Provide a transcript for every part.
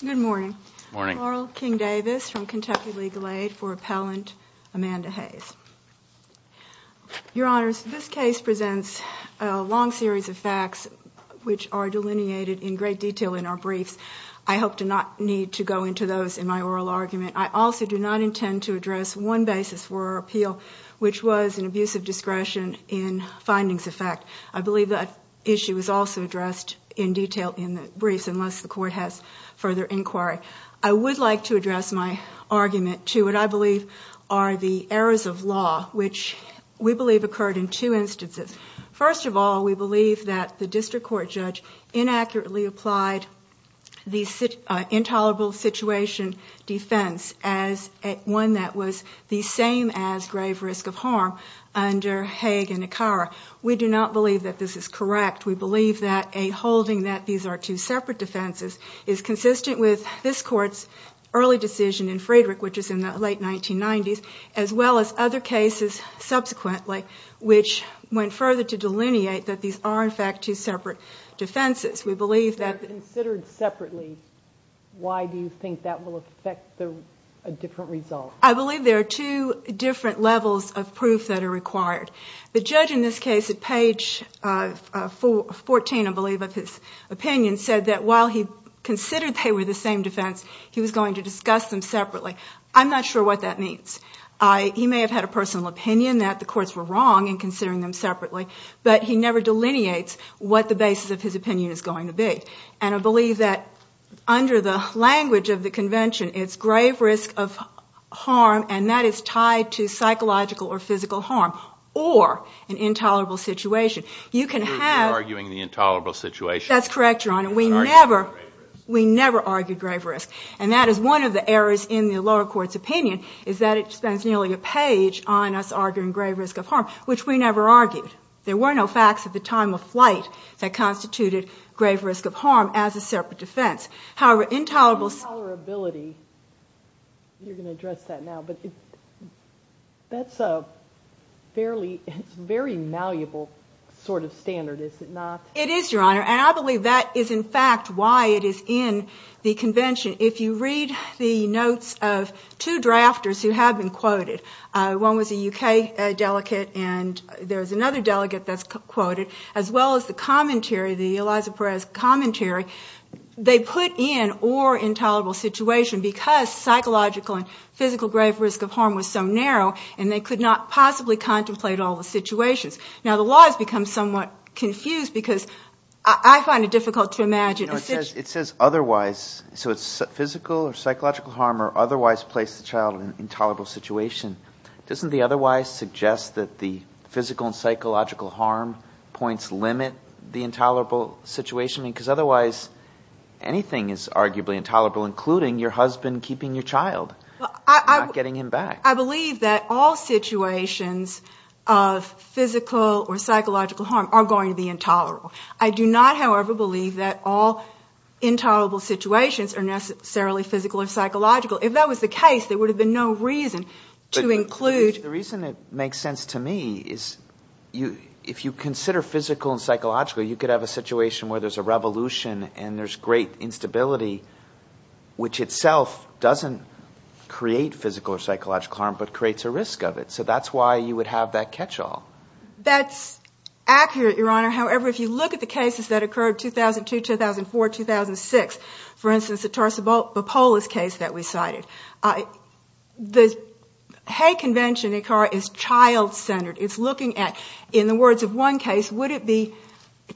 Good morning. Carl King Davis from Kentucky Legal Aid for Appellant Amanda Hayes. Your Honors, this case presents a long series of facts which are delineated in great detail in our briefs. I hope to not need to go into those in my oral argument. I also do not intend to address one basis for our appeal, which was an abuse of discretion in findings of fact. I believe that issue is also addressed in detail in the briefs, unless the Court has further inquiry. I would like to address my argument to what I believe are the errors of law, which we believe occurred in two instances. First of all, we believe that the District Court judge inaccurately applied the intolerable situation defense as one that was the same as grave risk of harm under Haig and Ikara. We do not believe that this is correct. We believe that a holding that these are two separate defenses is consistent with this Court's early decision in Friedrich, which is in the late 1990s, as well as other cases subsequently, which went further to delineate that these are in fact two separate defenses. We believe that... If they're considered separately, why do you think that will affect a different result? I believe there are two different levels of proof that are required. The judge in this case at page 14, I believe, of his opinion said that while he considered they were the same defense, he was going to discuss them separately. I'm not sure what that means. He may have had a personal opinion that the courts were wrong in considering them separately, but he never delineates what the basis of his opinion is going to be. I believe that under the language of the Convention, it's grave risk of harm, and that is tied to psychological or physical harm, or an intolerable situation. You're arguing the intolerable situation. That's correct, Your Honor. We never argued grave risk. That is one of the errors in the Convention, which spends nearly a page on us arguing grave risk of harm, which we never argued. There were no facts at the time of flight that constituted grave risk of harm as a separate defense. However, intolerable... Intolerability, you're going to address that now, but that's a very malleable sort of standard, is it not? It is, Your Honor, and I believe that is in fact why it is in the Convention. If you read the notes of two drafters who have been quoted, one was a U.K. delegate and there's another delegate that's quoted, as well as the commentary, the Eliza Perez commentary, they put in or intolerable situation because psychological and physical grave risk of harm was so narrow and they could not possibly contemplate all the situations. Now, the law has become somewhat confused because I find it difficult to imagine... It says otherwise, so it's physical or psychological harm or otherwise place the child in an intolerable situation. Doesn't the otherwise suggest that the physical and psychological harm points limit the intolerable situation? Because otherwise, anything is arguably intolerable, including your husband keeping your child and not getting him back. I believe that all situations of physical or psychological harm are going to be intolerable. I do not, however, believe that all intolerable situations are necessarily physical or psychological. If that was the case, there would have been no reason to include... The reason it makes sense to me is if you consider physical and psychological, you could have a situation where there's a revolution and there's great instability, which itself doesn't create physical or psychological harm, but creates a risk of it. So that's why you would have that catch-all. That's accurate, Your Honor. However, if you look at the cases that occurred in 2002, 2004, 2006, for instance, the Tarsabopolis case that we cited, the Hague Convention is child-centered. It's looking at, in the words of one case, would it be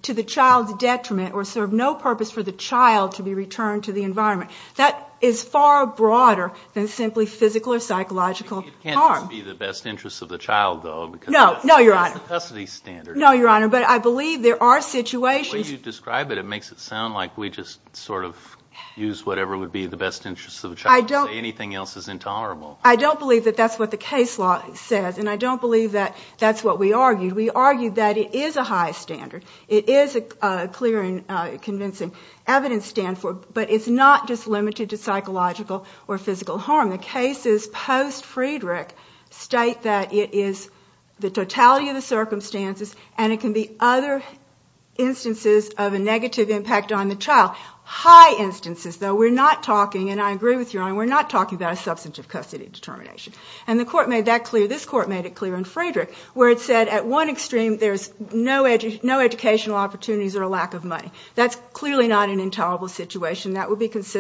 to the child's detriment or serve no purpose for the child to be returned to the environment? That is far broader than simply physical or psychological harm. It can't just be the best interest of the child, though, because... No, no, Your Honor. It's the custody standard. No, Your Honor, but I believe there are situations... The way you describe it, it makes it sound like we just sort of use whatever would be the best interest of the child and say anything else is intolerable. I don't believe that that's what the case law says, and I don't believe that that's what we argued. We argued that it is a high standard. It is a clear and convincing evidence stand for it, but it's not just limited to psychological or physical harm. The cases post-Friedrich state that it is the totality of the circumstances, and it can be other instances of a negative impact on the child. High instances, though. We're not talking, and I agree with Your Honor, we're not talking about a substantive custody determination, and the court made that clear. This court made it clear in Friedrich, where it said, at one extreme, there's no educational opportunities or a lack of money. That's clearly not an intolerable situation. That would be what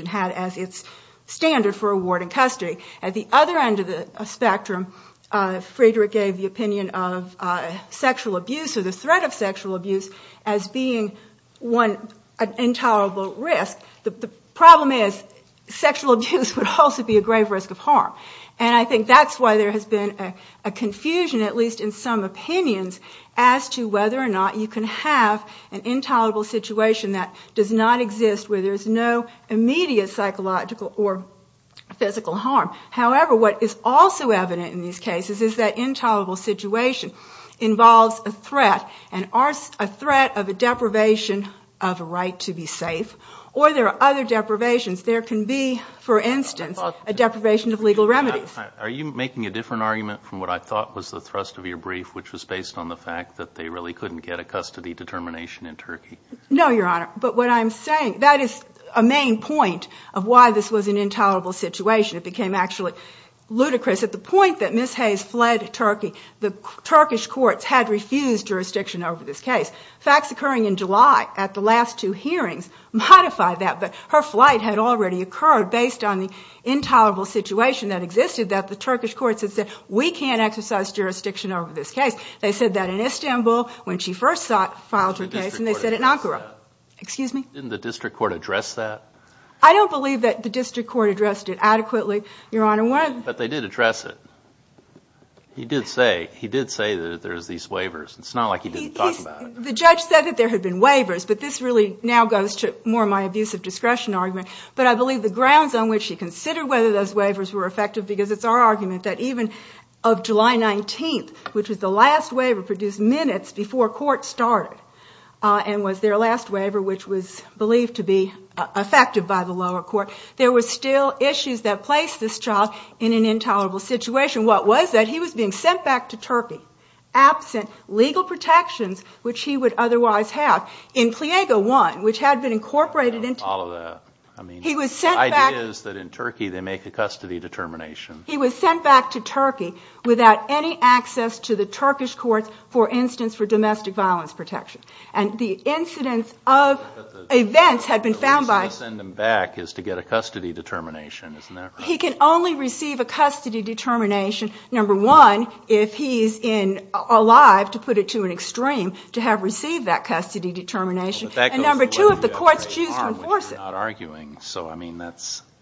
it had as its standard for awarding custody. At the other end of the spectrum, Friedrich gave the opinion of sexual abuse or the threat of sexual abuse as being an intolerable risk. The problem is, sexual abuse would also be a grave risk of harm. I think that's why there has been a confusion, at least in some opinions, as to whether or not you can have an intolerable situation that does not exist, where there's no immediate psychological or physical harm. However, what is also evident in these cases is that intolerable situation involves a threat, and a threat of a deprivation of a right to be safe, or there are other deprivations. There can be, for instance, a deprivation of legal remedies. Are you making a different argument from what I thought was the thrust of your brief, which was based on the fact that they really couldn't get a custody determination in Turkey? No, Your Honor. That is a main point of why this was an intolerable situation. It became actually ludicrous. At the point that Ms. Hayes fled Turkey, the Turkish courts had refused jurisdiction over this case. Facts occurring in July at the last two hearings modify that, but her flight had already occurred based on the intolerable situation that existed that the Turkish courts had said, we can't exercise jurisdiction over this case. They said that in Istanbul when she first filed her case, and they said it in Ankara. Didn't the district court address that? I don't believe that the district court addressed it adequately, Your Honor. But they did address it. He did say that there's these waivers. It's not like he didn't talk about it. The judge said that there had been waivers, but this really now goes to more my abuse of discretion argument, but I believe the grounds on which he considered whether those last waiver produced minutes before court started and was their last waiver, which was believed to be effective by the lower court, there were still issues that placed this child in an intolerable situation. What was that? He was being sent back to Turkey absent legal protections, which he would otherwise have. In Pliego 1, which had been incorporated into the... I don't follow that. I mean, the idea is that in Turkey they make a custody determination. He was sent back to Turkey without any access to the Turkish courts, for instance, for domestic violence protection. And the incidence of events had been found by... The reason to send him back is to get a custody determination, isn't that right? He can only receive a custody determination, number one, if he's alive, to put it to an extreme, to have received that custody determination, and number two, if the courts choose to enforce it. But that goes to where you got hurt, which you're not arguing. So, I mean,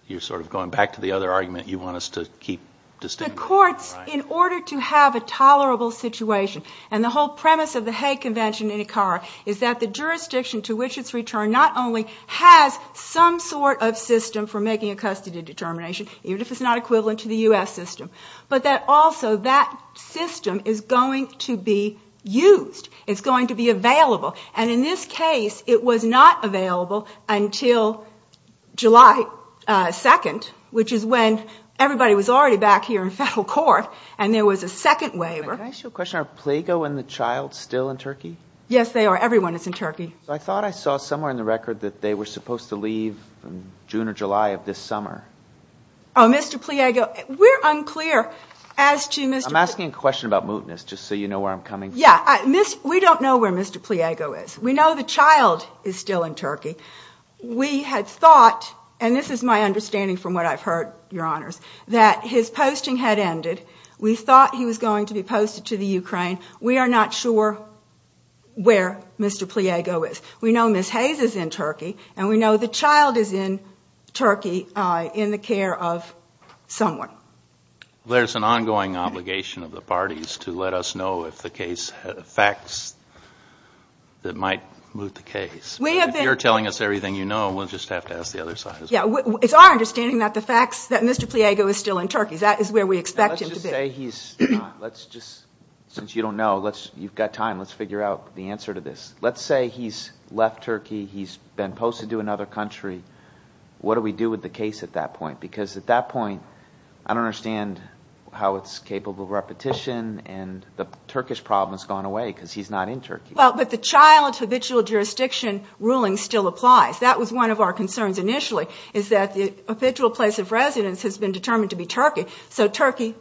you're sort of going back to the other argument you want us to keep, just to... The courts, in order to have a tolerable situation, and the whole premise of the Hague Convention in Ikara is that the jurisdiction to which it's returned not only has some sort of system for making a custody determination, even if it's not equivalent to the U.S. system, but that also that system is going to be used. It's going to be available. And in this case it was not available until July 2nd, which is when everybody was already back here in federal court, and there was a second waiver. Can I ask you a question? Are Pliego and the child still in Turkey? Yes, they are. Everyone is in Turkey. I thought I saw somewhere in the record that they were supposed to leave in June or July of this summer. Oh, Mr. Pliego, we're unclear as to Mr. Pliego... I'm asking a question about mootness, just so you know where I'm coming from. We don't know where Mr. Pliego is. We know the child is still in Turkey. We had thought, and this is my understanding from what I've heard, Your Honors, that his posting had ended. We thought he was going to be posted to the Ukraine. We are not sure where Mr. Pliego is. We know Ms. Hayes is in Turkey, and we know the child is in Turkey in the care of someone. There's an ongoing obligation of the parties to let us know if the case has facts that might moot the case. If you're telling us everything you know, we'll just have to ask the other side as well. It's our understanding that the facts that Mr. Pliego is still in Turkey. That is where we expect him to be. Let's just, since you don't know, you've got time, let's figure out the answer to this. Let's say he's left Turkey. He's been posted to another country. What do we do with the child at that point? At that point, I don't understand how it's capable of repetition and the Turkish problem has gone away because he's not in Turkey. The child's habitual jurisdiction ruling still applies. That was one of our concerns initially, is that the habitual place of residence has been determined to be Turkey. Turkey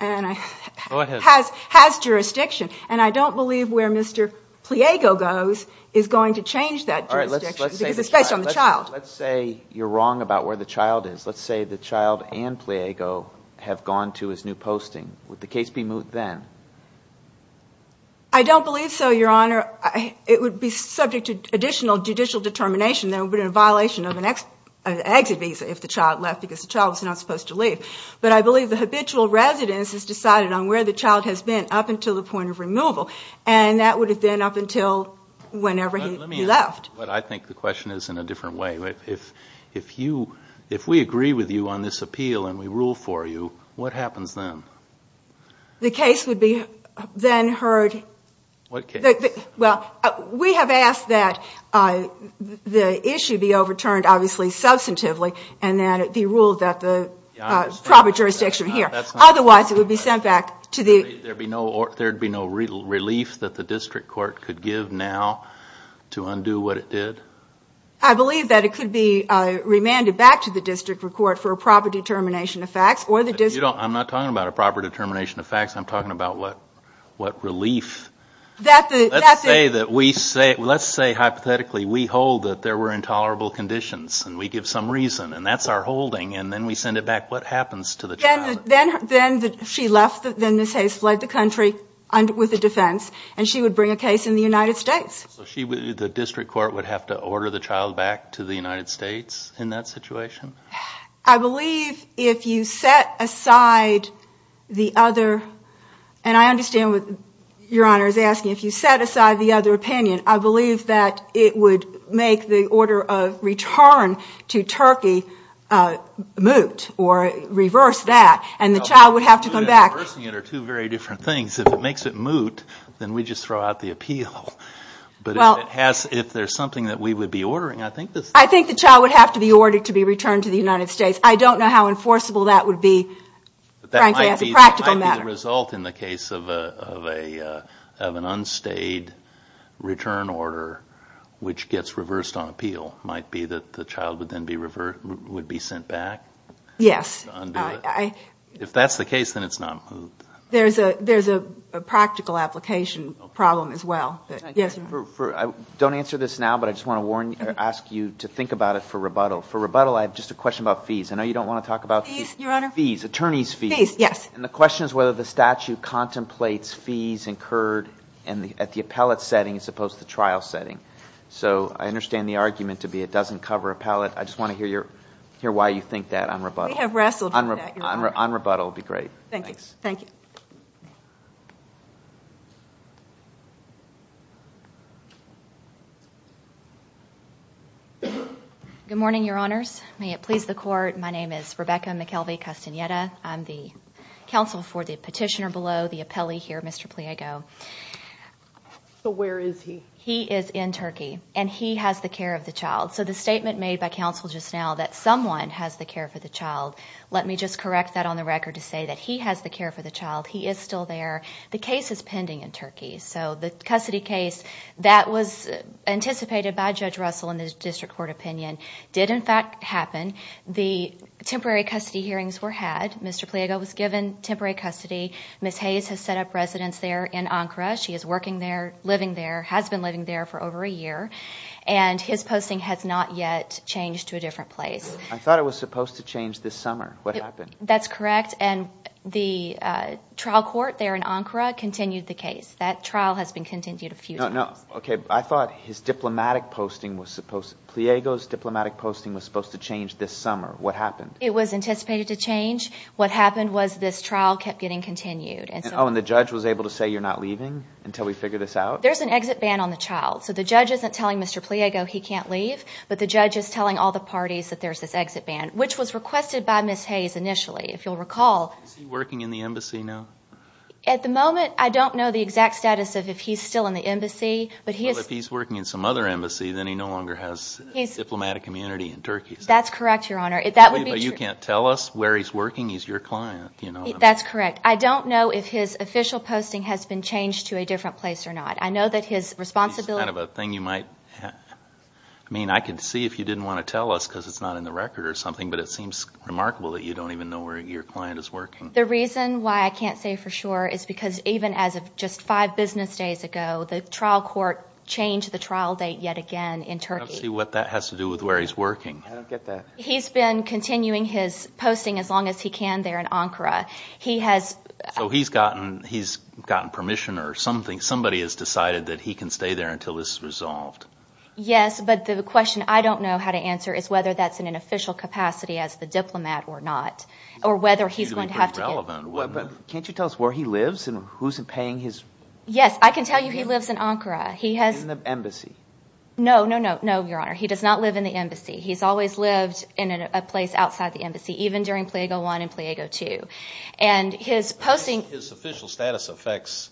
has jurisdiction. I don't believe where Mr. Pliego goes is going to change that jurisdiction because it's based on the child. Let's say you're wrong about where the child is. Let's say the child and Pliego have gone to his new posting. Would the case be moot then? I don't believe so, Your Honor. It would be subject to additional judicial determination that it would be a violation of an exit visa if the child left because the child was not supposed to leave. But I believe the habitual residence is decided on where the child has been up until the point of removal. And that would have been up until whenever he left. But I think the question is in a different way. If we agree with you on this appeal and we rule for you, what happens then? The case would be then heard... What case? We have asked that the issue be overturned, obviously, substantively and that it be ruled that the proper jurisdiction here. Otherwise, it would be sent back to the... There would be no relief that the district court could give now to undo what it did? I believe that it could be remanded back to the district court for a proper determination of facts or the district... I'm not talking about a proper determination of facts. I'm talking about what relief... Let's say hypothetically we hold that there were intolerable conditions and we give some reason and that's our holding and then we send it back. What happens to the child? Then she left, then Ms. Hayes fled the country with a defense and she would bring a case in the United States. The district court would have to order the child back to the United States in that situation? I believe if you set aside the other... And I understand what Your Honor is asking. If you set aside the other opinion, I believe that it would make the order of return to the United States and the child would have to come back. Reversing it are two very different things. If it makes it moot, then we just throw out the appeal. But if there's something that we would be ordering, I think this... I think the child would have to be ordered to be returned to the United States. I don't know how enforceable that would be, frankly, as a practical matter. That might be the result in the case of an unstayed return order, which gets reversed on appeal. It might be that the child would then be sent back? Yes. If that's the case, then it's not moot. There's a practical application problem as well. Don't answer this now, but I just want to ask you to think about it for rebuttal. For rebuttal, I have just a question about fees. I know you don't want to talk about fees. Fees, Your Honor? Fees, attorney's fees. Fees, yes. And the question is whether the statute contemplates fees incurred at the appellate setting as opposed to the trial setting. So I understand the argument to be it doesn't cover appellate. I just want to hear why you think that on rebuttal. We have wrestled with that, Your Honor. On rebuttal would be great. Thank you. Good morning, Your Honors. May it please the Court. My name is Rebecca McKelvey-Castaneda. I'm the counsel for the petitioner below, the appellee here, Mr. Pliego. Where is he? He is in Turkey, and he has the care of the child. So the statement made by counsel just now that someone has the care for the child, let me just correct that on the record to say that he has the care for the child. He is still there. The case is pending in Turkey. So the custody case that was anticipated by Judge Russell in the district court opinion did in fact happen. The temporary custody hearings were had. Mr. Pliego was given temporary custody. Ms. Hayes has set up residence there in Ankara. She is working there, living there, has been living there for over a year, and his posting has not yet changed to a different place. I thought it was supposed to change this summer. What happened? That's correct, and the trial court there in Ankara continued the case. That trial has been continued a few times. I thought his diplomatic posting was supposed to, Pliego's diplomatic posting was supposed to change this summer. What happened? It was anticipated to change. What happened was this trial kept getting continued. Oh, and the judge was able to say you're not leaving until we figure this out? There's an exit ban on the child. So the judge isn't telling Mr. Pliego he can't leave, but the judge is telling all the parties that there's this exit ban, which was requested by Ms. Hayes initially, if you'll recall. Is he working in the embassy now? At the moment, I don't know the exact status of if he's still in the embassy, but he is. Well, if he's working in some other embassy, then he no longer has diplomatic immunity in Turkey. That's correct, Your Honor. But you can't tell us where he's working. He's your client. That's correct. I don't know if his official posting has been changed to a different place or not. I know that his responsibility... It's kind of a thing you might... I mean, I can see if you didn't want to tell us because it's not in the record or something, but it seems remarkable that you don't even know where your client is working. The reason why I can't say for sure is because even as of just five business days ago, the trial court changed the trial date yet again in Turkey. I don't see what that has to do with where he's working. I don't get that. He's been continuing his posting as long as he can there in Ankara. He has... He has decided that he can stay there until this is resolved. Yes, but the question I don't know how to answer is whether that's in an official capacity as the diplomat or not, or whether he's going to have to get... But can't you tell us where he lives and who's paying his... Yes, I can tell you he lives in Ankara. He has... In the embassy. No, no, no, no, Your Honor. He does not live in the embassy. He's always lived in a place outside the embassy, even during Pliego I and Pliego II. And his posting... His official status affects...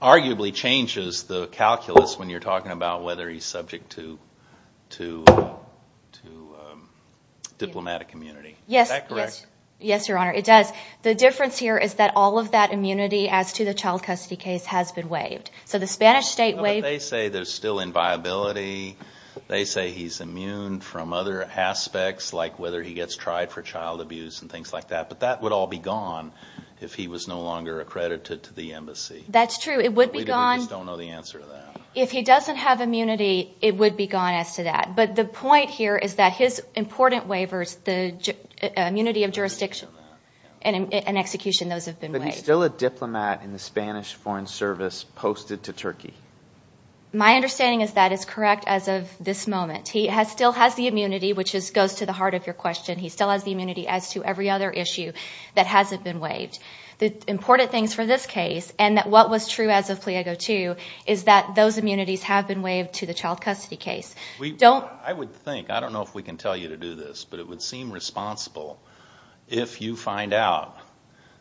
Arguably changes the calculus when you're talking about whether he's subject to diplomatic immunity. Is that correct? Yes, Your Honor. It does. The difference here is that all of that immunity as to the child custody case has been waived. So the Spanish state waived... But they say there's still inviolability. They say he's immune from other aspects, like whether he gets tried for child abuse and things like that. But that would all be gone if he was no longer accredited to the embassy. That's true. It would be gone... We just don't know the answer to that. If he doesn't have immunity, it would be gone as to that. But the point here is that his important waivers, the immunity of jurisdiction and execution, those have been waived. But he's still a diplomat in the Spanish Foreign Service posted to Turkey. My understanding is that is correct as of this moment. He still has the immunity, which goes to the heart of your question. He still has the immunity as to every other issue that hasn't been waived. The important things for this case and what was true as of Pliego 2 is that those immunities have been waived to the child custody case. I would think, I don't know if we can tell you to do this, but it would seem responsible if you find out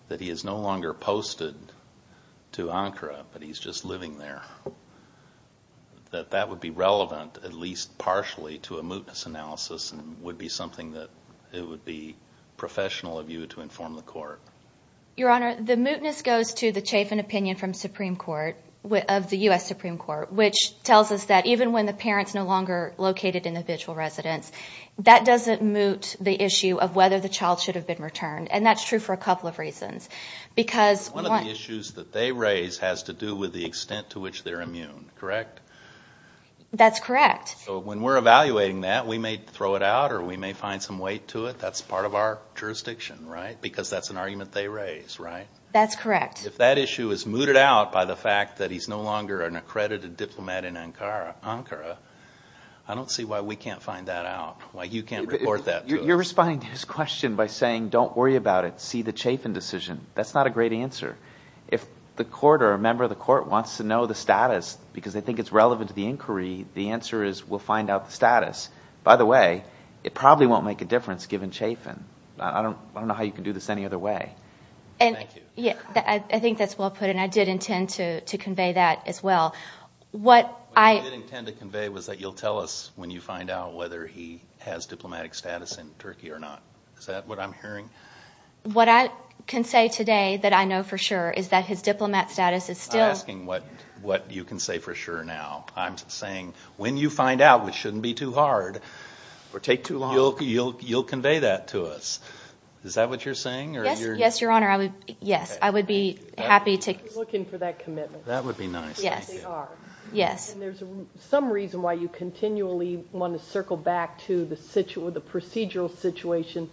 that he is no longer posted to Ankara, but he's just living there. That would be relevant, at least partially, to a mootness analysis and would be something that it would be professional of you to inform the court. Your Honor, the mootness goes to the Chafin opinion from Supreme Court, of the U.S. Supreme Court, which tells us that even when the parent's no longer located in the vigil residence, that doesn't moot the issue of whether the child should have been returned. And that's true for a couple of reasons. Because one of the issues that they raise has to do with the extent to which they're That's correct. When we're evaluating that, we may throw it out or we may find some weight to it. That's part of our jurisdiction, right? Because that's an argument they raise, right? That's correct. If that issue is mooted out by the fact that he's no longer an accredited diplomat in Ankara, I don't see why we can't find that out, why you can't report that to us. You're responding to his question by saying, don't worry about it, see the Chafin decision. That's not a great answer. If the court or a member of the court wants to know the status because they think it's relevant to the inquiry, the answer is we'll find out the status. By the way, it probably won't make a difference given Chafin. I don't know how you can do this any other way. Thank you. I think that's well put and I did intend to convey that as well. What you did intend to convey was that you'll tell us when you find out whether he has diplomatic status in Turkey or not. Is that what I'm hearing? What I can say today that I know for sure is that his diplomat status is still I'm not asking what you can say for sure now. I'm saying when you find out, which shouldn't be too hard or take too long, you'll convey that to us. Is that what you're saying? Yes, Your Honor. I would be happy to. We're looking for that commitment. That would be nice. Yes, we are. Yes. There's some reason why you continually want to circle back to the procedural situation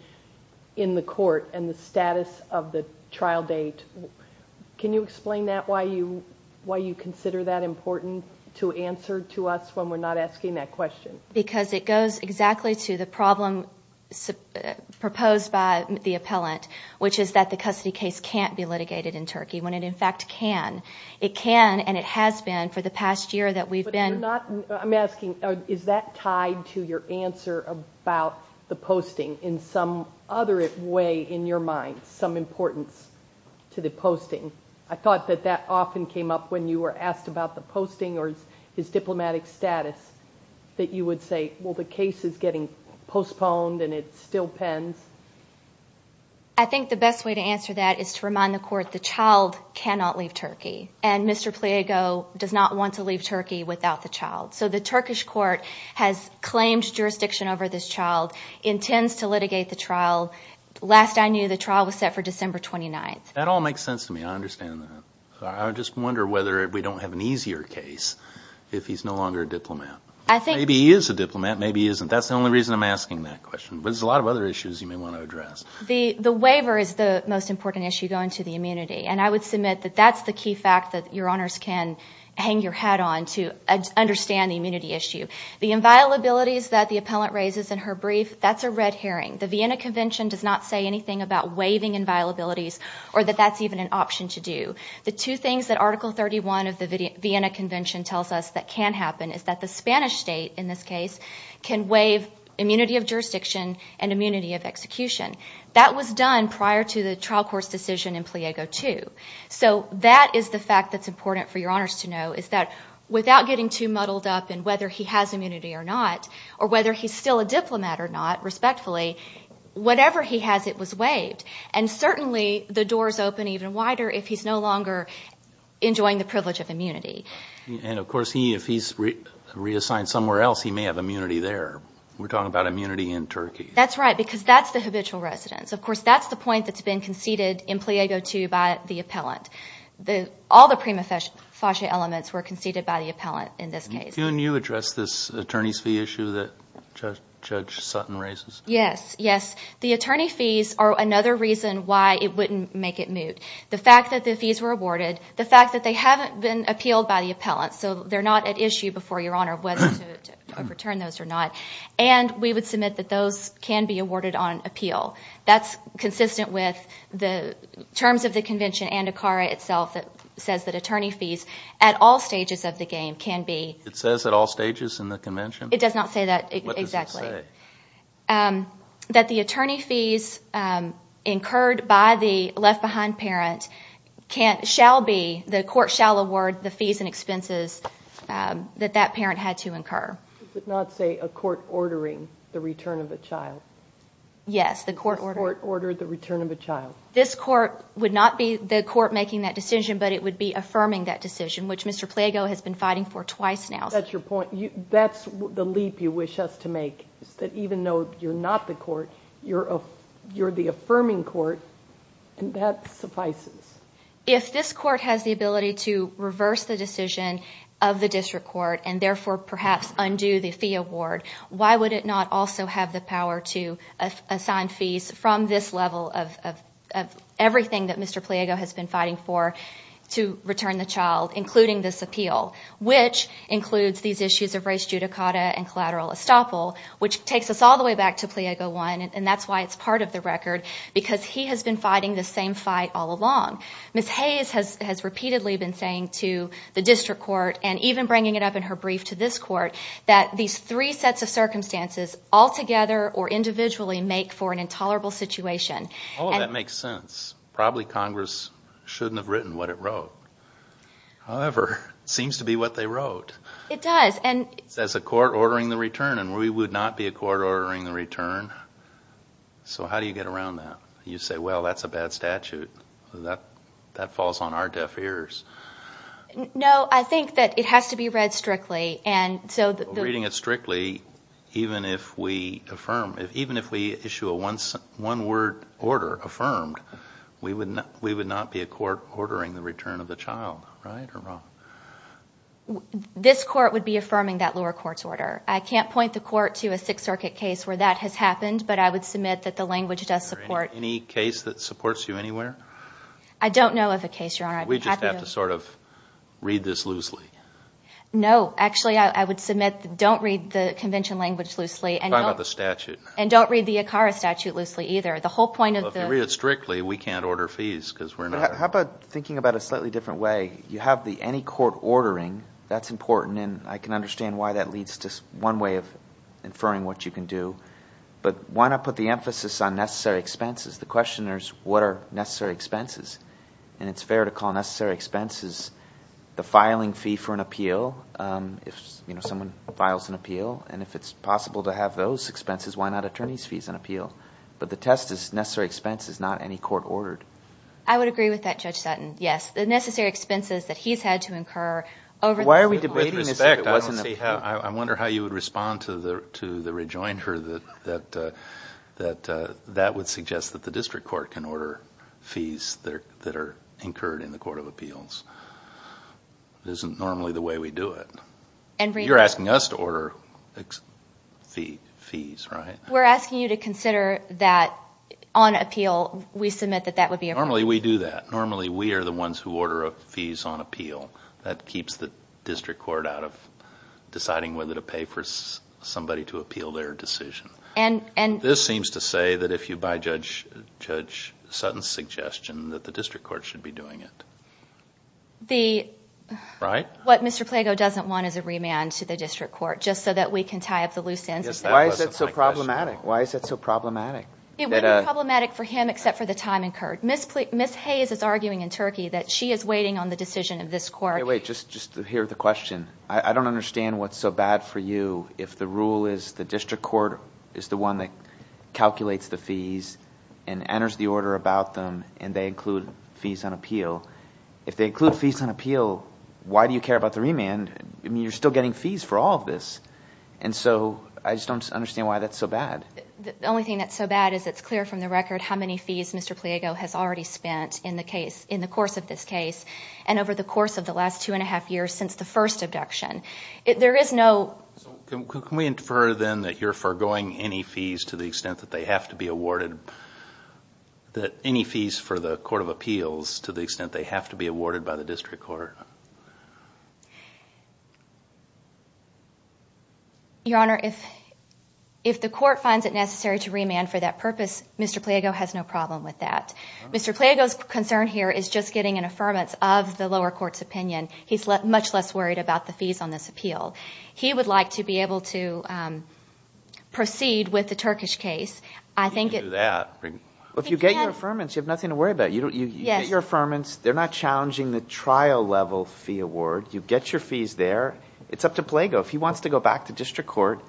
in the court and the status of the trial date. Can you explain that, why you consider that important to answer to us when we're not asking that question? Because it goes exactly to the problem proposed by the appellant, which is that the custody case can't be litigated in Turkey when it in fact can. It can and it has been for the past year that we've been I'm asking, is that tied to your answer about the posting in some other way in your mind, some importance to the posting? I thought that that often came up when you were asked about the posting or his diplomatic status, that you would say, well, the case is getting postponed and it still pens. I think the best way to answer that is to remind the court the child cannot leave Turkey and Mr. Pliego does not want to leave Turkey without the child. So the Turkish court has claimed jurisdiction over this child, intends to litigate the trial. Last I knew, the trial was set for December 29th. That all makes sense to me. I understand that. I just wonder whether we don't have an easier case if he's no longer a diplomat. Maybe he is a diplomat, maybe he isn't. That's the only reason I'm asking that question. But there's a lot of other issues you may want to address. The waiver is the most important issue going to the immunity. And I would submit that that's the key fact that your honors can hang your hat on to understand the immunity issue. The inviolabilities that the appellant raises in her brief, that's a red herring. The Vienna Convention does not say anything about waiving inviolabilities or that that's even an option to do. The two things that Article 31 of the Vienna Convention tells us that can happen is that the Spanish state, in this case, can waive immunity of jurisdiction and immunity of execution. That was done prior to the trial court's decision in Pliego II. So that is the fact that's important for your honors to know, is that without getting too muddled up in whether he has immunity or not, or whether he's still a diplomat or not, respectfully, whatever he has, it was waived. And certainly, the doors open even wider if he's no longer enjoying the privilege of immunity. And of course, if he's reassigned somewhere else, he may have immunity there. We're talking about immunity in Turkey. That's right, because that's the habitual residence. Of course, that's the point that's been conceded in Pliego II by the appellant. All the prima facie elements were conceded by the appellant in this case. Can you address this attorney's fee issue that Judge Sutton raises? Yes, yes. The attorney fees are another reason why it wouldn't make it moot. The fact that the fees were awarded, the fact that they haven't been appealed by the appellant, so they're not at issue before your honor whether to overturn those or not, and we would submit that those can be awarded on appeal. That's consistent with the terms of the convention and ACARA itself that says that attorney fees at all stages of the game can be... It says at all stages in the convention? It does not say that exactly. What does it say? That the attorney fees incurred by the left-behind parent shall be, the court shall award the fees and expenses that that parent had to incur. Does it not say a court ordering the return of a child? Yes, the court ordering... Does the court order the return of a child? This court would not be the court making that decision, but it would be affirming that decision, which Mr. Pliego has been fighting for twice now. That's your point. That's the leap you wish us to make, is that even though you're not the court, you're the affirming court, and that suffices. If this court has the ability to reverse the decision of the district court and therefore perhaps undo the fee award, why would it not also have the power to assign fees from this level of everything that Mr. Pliego has been fighting for to return the child, including this appeal, which includes these issues of race judicata and collateral estoppel, which takes us all the way back to Pliego I, and that's why it's part of the record, because he has been fighting the same fight all along. Ms. Hayes has repeatedly been saying to the district court, and even bringing it up in her brief to this court, that these three sets of circumstances altogether or individually make for an intolerable situation. All of that makes sense. Probably Congress shouldn't have written what it wrote. However, it seems to be what they wrote. It does. It says a court ordering the return, and we would not be a court ordering the return. So how do you get around that? You say, well, that's a bad statute. That falls on our deaf ears. No, I think that it has to be read strictly. Reading it strictly, even if we issue a one-word order affirmed, we would not be a court ordering the return of the child, right or wrong? This court would be affirming that lower court's order. I can't point the court to a Sixth Circuit case where that has happened, but I would submit that the language does support... Is there any case that supports you anywhere? I don't know of a case, Your Honor. We just have to sort of read this loosely. No. Actually, I would submit don't read the convention language loosely. Talk about the statute. And don't read the ACARA statute loosely either. The whole point of the... Well, if you read it strictly, we can't order fees because we're not... How about thinking about it a slightly different way? You have the any court ordering. That's important, and I can understand why that leads to one way of inferring what you can do. But why not put the emphasis on necessary expenses? The question is, what are necessary expenses? And it's fair to call necessary expenses the filing fee for an appeal if someone files an appeal. And if it's possible to have those expenses, why not attorney's fees on appeal? But the test is necessary expenses, not any court ordered. I would agree with that, Judge Sutton. Yes, the necessary expenses that he's had to incur over... Why are we debating this if it wasn't... I wonder how you would respond to the rejoinder that that would suggest that the district court can order fees that are incurred in the court of appeals. It isn't normally the way we do it. You're asking us to order fees, right? We're asking you to consider that on appeal we submit that that would be appropriate. Normally we do that. Normally we are the ones who order fees on appeal. That keeps the district court out of deciding whether to pay for somebody to appeal their decision. This seems to say that if you buy Judge Sutton's suggestion that the district court should be doing it. The... Right? What Mr. Plago doesn't want is a remand to the district court just so that we can tie up the loose ends. Why is that so problematic? It wouldn't be problematic for him except for the time incurred. Ms. Hayes is arguing in Turkey that she is waiting on the decision of this court. Wait, just to hear the question. I don't understand what's so bad for you if the rule is the district court is the one that calculates the fees and enters the order about them and they include fees on appeal. If they include fees on appeal, why do you care about the remand? You're still getting fees for all of this. And so I just don't understand why that's so bad. The only thing that's so bad is it's clear from the record how many fees Mr. Plago has already spent in the course of this case. And over the course of the last two and a half years since the first abduction. There is no... Can we infer then that you're forgoing any fees to the extent that they have to be awarded? Any fees for the court of appeals to the extent they have to be awarded by the district court? Your Honor, if the court finds it necessary to remand for that purpose, Mr. Plago has no problem with that. Mr. Plago's concern here is just getting an affirmance of the lower court's opinion. He's much less worried about the fees on this appeal. He would like to be able to proceed with the Turkish case. If you get your affirmance, you have nothing to worry about. You get your affirmance. They're not challenging the trial level fee award. You get your fees there. It's up to Plago. If he wants to go back to district court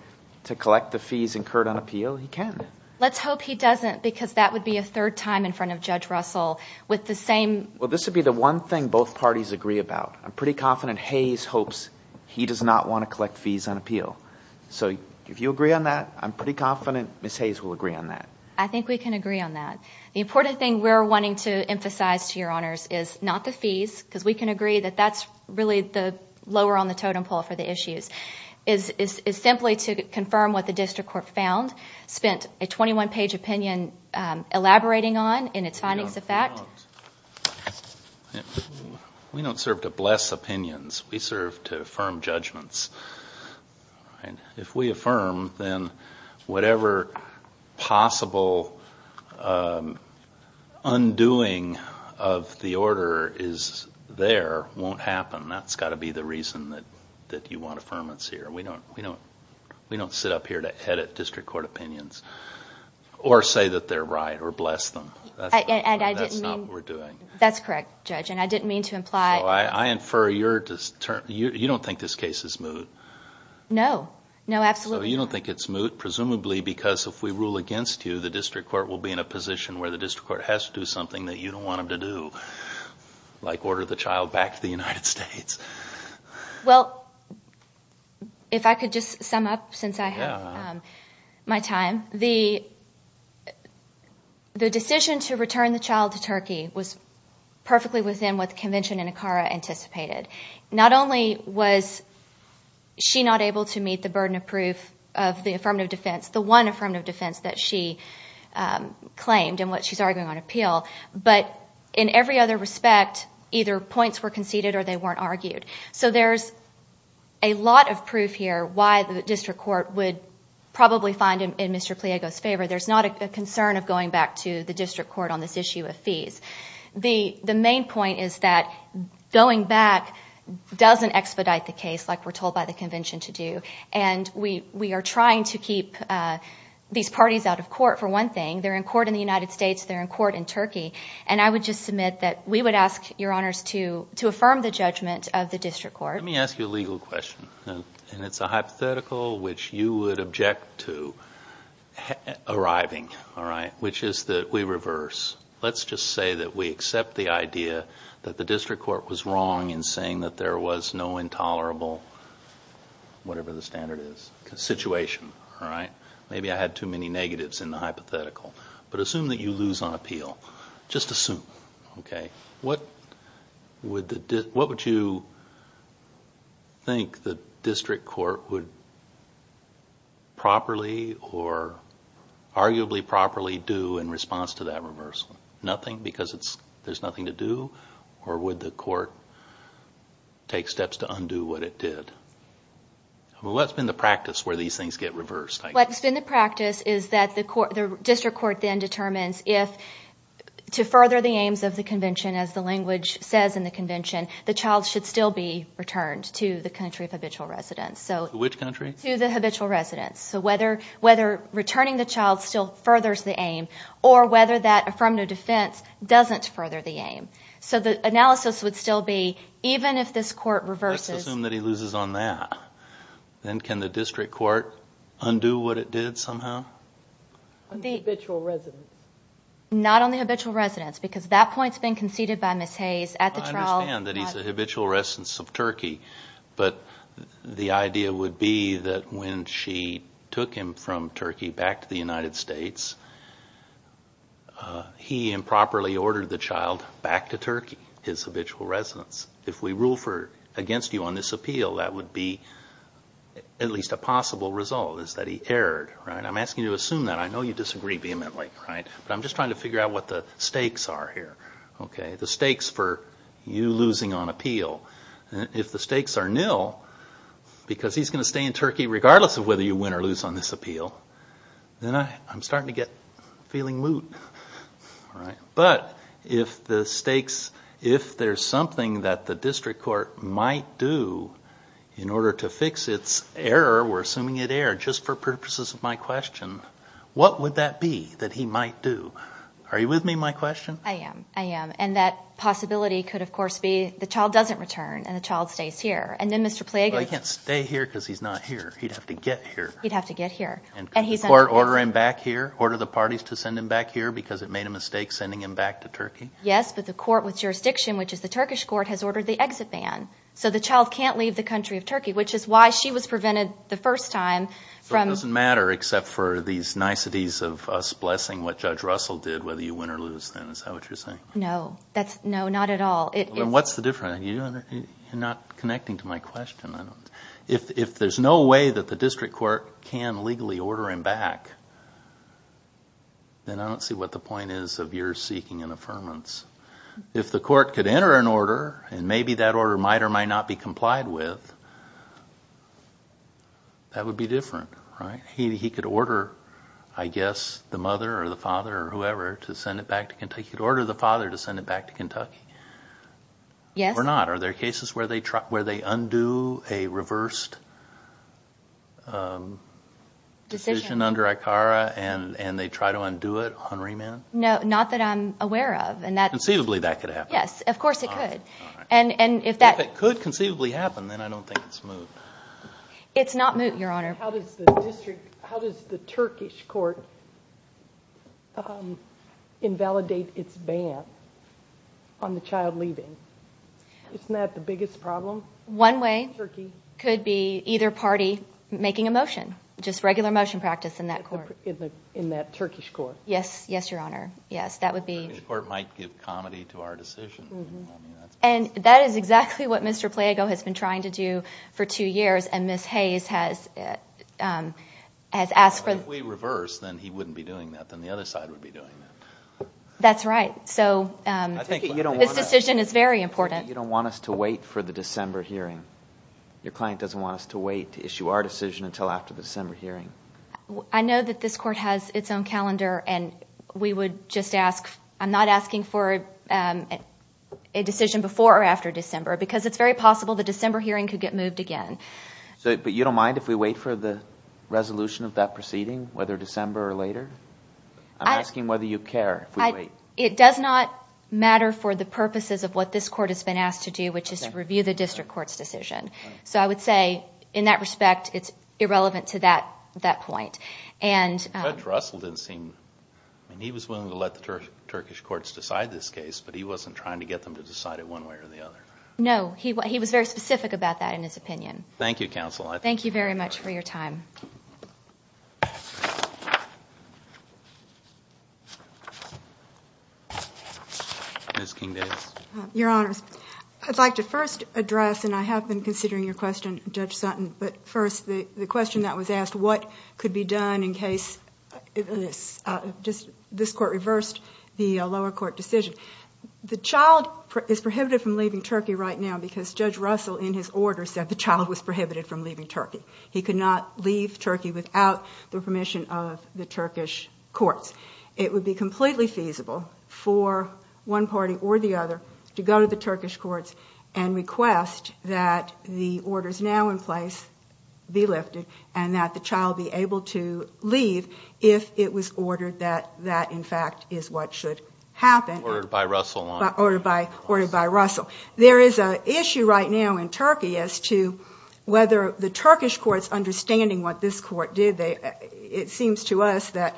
to collect the fees incurred on appeal, he can. Let's hope he doesn't because that would be a third time in front of Judge Russell with the same... Well, this would be the one thing both parties agree about. I'm pretty confident Hayes hopes he does not want to collect fees on appeal. So if you agree on that, I'm pretty confident Ms. Hayes will agree on that. I think we can agree on that. The important thing we're wanting to emphasize to your honors is not the fees because we can agree that that's really the lower on the totem pole for the issues, is simply to confirm what the district court found, spent a 21-page opinion elaborating on in its findings of fact. We don't serve to bless opinions. We serve to affirm judgments. If we affirm, then whatever possible undoing of the order is there won't happen. That's got to be the reason that you want affirmance here. We don't sit up here to edit district court opinions or say that they're right or bless them. That's not what we're doing. That's correct, Judge, and I didn't mean to imply... I infer you don't think this case is moot. No. No, absolutely not. So you don't think it's moot presumably because if we rule against you, the district court will be in a position where the district court has to do something that you don't want them to do, like order the child back to the United States? Well, if I could just sum up since I have my time, the decision to return the child to Turkey was perfectly within what the convention in IKARA anticipated. Not only was she not able to meet the burden of proof of the affirmative defense, the one affirmative defense that she claimed and what she's arguing on appeal, but in every other respect either points were conceded or they weren't argued. So there's a lot of proof here why the district court would probably find in Mr. Pliego's favor. There's not a concern of going back to the district court on this issue of fees. The main point is that going back doesn't expedite the case like we're told by the convention to do, and we are trying to keep these parties out of court for one thing. They're in court in the United States. They're in court in Turkey. And I would just submit that we would ask your honors to affirm the judgment of the district court. Let me ask you a legal question, and it's a hypothetical which you would object to arriving, all right, which is that we reverse. Let's just say that we accept the idea that the district court was wrong in saying that there was no intolerable, whatever the standard is, situation, all right? Maybe I had too many negatives in the hypothetical. But assume that you lose on appeal. Just assume, okay? What would you think the district court would properly or arguably properly do in response to that reversal? Nothing because there's nothing to do? Or would the court take steps to undo what it did? What's been the practice where these things get reversed? What's been the practice is that the district court then determines if to further the aims of the convention, as the language says in the convention, the child should still be returned to the country of habitual residence. Which country? To the habitual residence. So whether returning the child still furthers the aim or whether that affirmative defense doesn't further the aim. So the analysis would still be even if this court reverses. Let's assume that he loses on that. Then can the district court undo what it did somehow? On the habitual residence. Not on the habitual residence because that point's been conceded by Ms. Hayes at the trial. I understand that he's a habitual residence of Turkey. But the idea would be that when she took him from Turkey back to the United States, he improperly ordered the child back to Turkey, his habitual residence. If we rule against you on this appeal, that would be at least a possible result is that he erred. I'm asking you to assume that. I know you disagree vehemently. But I'm just trying to figure out what the stakes are here. The stakes for you losing on appeal. If the stakes are nil because he's going to stay in Turkey regardless of whether you win or lose on this appeal, then I'm starting to get feeling moot. But if there's something that the district court might do in order to fix its error, we're assuming it erred just for purposes of my question, what would that be that he might do? Are you with me in my question? I am. I am. And that possibility could, of course, be the child doesn't return and the child stays here. And then Mr. Plague... But he can't stay here because he's not here. He'd have to get here. He'd have to get here. And could the court order him back here, order the parties to send him back here because it made a mistake sending him back to Turkey? Yes, but the court with jurisdiction, which is the Turkish court, has ordered the exit ban. So the child can't leave the country of Turkey, which is why she was prevented the first time from... So it doesn't matter except for these niceties of us blessing what Judge Russell did, whether you win or lose then, is that what you're saying? No. No, not at all. What's the difference? You're not connecting to my question. If there's no way that the district court can legally order him back, then I don't see what the point is of your seeking an affirmance. If the court could enter an order, and maybe that order might or might not be complied with, that would be different, right? He could order, I guess, the mother or the father or whoever to send it back to Kentucky. He could order the father to send it back to Kentucky. Yes. Or not. Are there cases where they undo a reversed decision under ICARA and they try to undo it on remand? No, not that I'm aware of. Conceivably that could happen. Yes, of course it could. If it could conceivably happen, then I don't think it's moot. It's not moot, Your Honor. How does the Turkish court invalidate its ban on the child leaving? Isn't that the biggest problem? One way could be either party making a motion, just regular motion practice in that court. In that Turkish court? Yes, Your Honor. Yes, that would be... The court might give comity to our decision. That is exactly what Mr. Plago has been trying to do for two years, and Ms. Hayes has asked for... If we reverse, then he wouldn't be doing that. Then the other side would be doing that. That's right. So this decision is very important. I think you don't want us to wait for the December hearing. Your client doesn't want us to wait to issue our decision until after the December hearing. I know that this court has its own calendar, and we would just ask. I'm not asking for a decision before or after December, because it's very possible the December hearing could get moved again. But you don't mind if we wait for the resolution of that proceeding, whether December or later? I'm asking whether you care if we wait. It does not matter for the purposes of what this court has been asked to do, which is to review the district court's decision. So I would say, in that respect, it's irrelevant to that point. Judge Russell didn't seem... He was willing to let the Turkish courts decide this case, but he wasn't trying to get them to decide it one way or the other. No, he was very specific about that in his opinion. Thank you, Counsel. Thank you very much for your time. Ms. King-Davis. Your Honors, I'd like to first address, and I have been considering your question, Judge Sutton, but first the question that was asked, what could be done in case this court reversed the lower court decision. The child is prohibited from leaving Turkey right now because Judge Russell, in his order, said the child was prohibited from leaving Turkey. He could not leave Turkey without the permission of the Turkish courts. It would be completely feasible for one party or the other to go to the Turkish courts and request that the orders now in place be lifted and that the child be able to leave if it was ordered that that, in fact, is what should happen. Ordered by Russell. Ordered by Russell. There is an issue right now in Turkey as to whether the Turkish courts, understanding what this court did, it seems to us that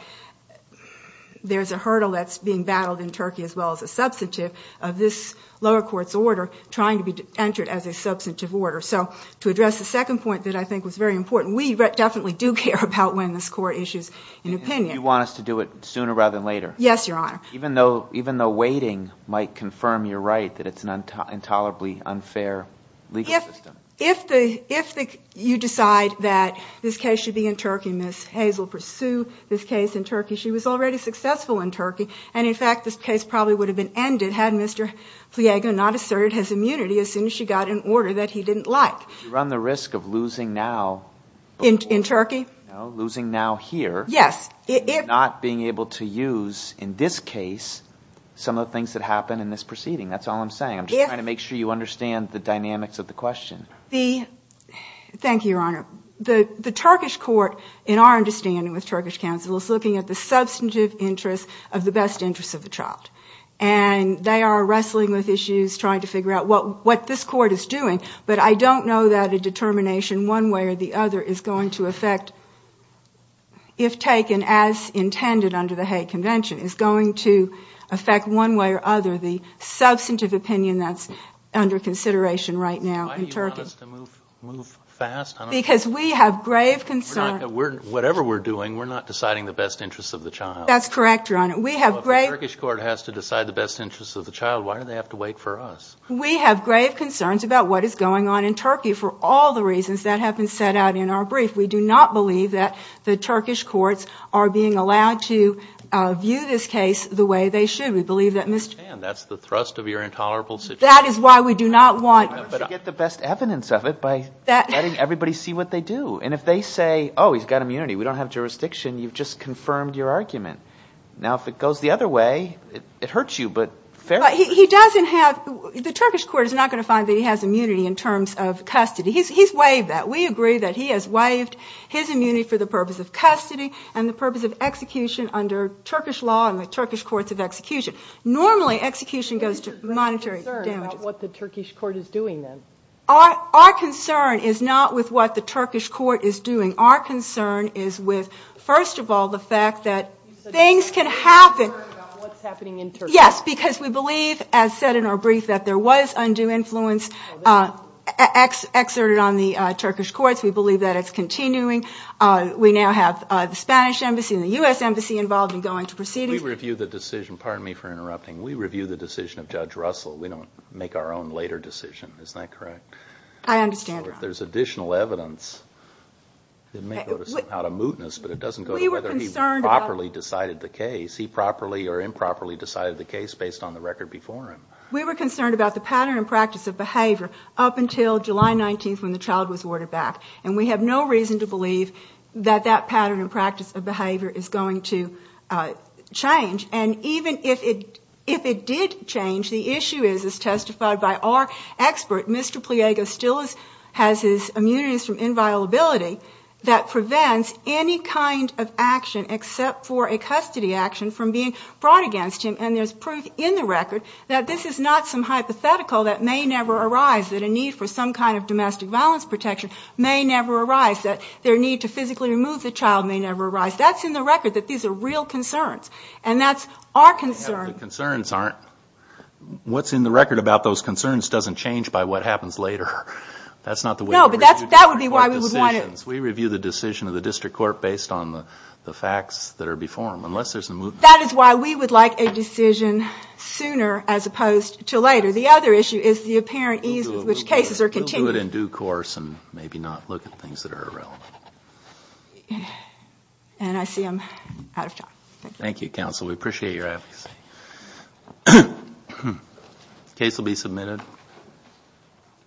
there's a hurdle that's being battled in Turkey as well as a substantive of this lower court's order trying to be entered as a substantive order. So to address the second point that I think was very important, we definitely do care about when this court issues an opinion. You want us to do it sooner rather than later? Yes, Your Honor. Even though waiting might confirm your right that it's an intolerably unfair legal system? If you decide that this case should be in Turkey, Ms. Hazel, pursue this case in Turkey, she was already successful in Turkey, and, in fact, this case probably would have been ended had Mr. Pliego not asserted his immunity as soon as she got an order that he didn't like. You run the risk of losing now. In Turkey? No, losing now here. Yes. Not being able to use, in this case, some of the things that happened in this proceeding. That's all I'm saying. I'm just trying to make sure you understand the dynamics of the question. Thank you, Your Honor. The Turkish court, in our understanding with Turkish counsel, is looking at the substantive interest of the best interest of the child. And they are wrestling with issues, trying to figure out what this court is doing. But I don't know that a determination one way or the other is going to affect, if taken as intended under the Hague Convention, is going to affect one way or the other the substantive opinion that's under consideration right now in Turkey. Why do you want us to move fast? Because we have grave concern. Whatever we're doing, we're not deciding the best interest of the child. That's correct, Your Honor. If the Turkish court has to decide the best interest of the child, why do they have to wait for us? We have grave concerns about what is going on in Turkey for all the reasons that have been set out in our brief. We do not believe that the Turkish courts are being allowed to view this case the way they should. We believe that Mr. That's the thrust of your intolerable situation. That is why we do not want. But you get the best evidence of it by letting everybody see what they do. And if they say, oh, he's got immunity, we don't have jurisdiction, you've just confirmed your argument. Now, if it goes the other way, it hurts you. But he doesn't have the Turkish court is not going to find that he has immunity in terms of custody. He's waived that. We agree that he has waived his immunity for the purpose of custody and the purpose of execution under Turkish law and the Turkish courts of execution. Normally, execution goes to monetary damages. What the Turkish court is doing then? Our concern is not with what the Turkish court is doing. Our concern is with, first of all, the fact that things can happen. Yes, because we believe, as said in our brief, that there was undue influence exerted on the Turkish courts. We believe that it's continuing. We now have the Spanish embassy and the U.S. embassy involved in going to proceedings. We review the decision. Pardon me for interrupting. We review the decision of Judge Russell. We don't make our own later decision. Is that correct? I understand. If there's additional evidence, it may go out of mootness, but it doesn't go to whether he properly decided the case. He properly or improperly decided the case based on the record before him. We were concerned about the pattern and practice of behavior up until July 19th when the child was ordered back. And we have no reason to believe that that pattern and practice of behavior is going to change. And even if it did change, the issue is, as testified by our expert, Mr. Pliego still has his immunities from inviolability that prevents any kind of action except for a custody action from being brought against him. And there's proof in the record that this is not some hypothetical that may never arise, that a need for some kind of domestic violence protection may never arise, that their need to physically remove the child may never arise. That's in the record, that these are real concerns. And that's our concern. What's in the record about those concerns doesn't change by what happens later. No, but that would be why we would want it. We review the decision of the district court based on the facts that are before them. That is why we would like a decision sooner as opposed to later. The other issue is the apparent ease with which cases are continued. We'll do it in due course and maybe not look at things that are irrelevant. And I see I'm out of time. Thank you, counsel. We appreciate your advocacy. The case will be submitted.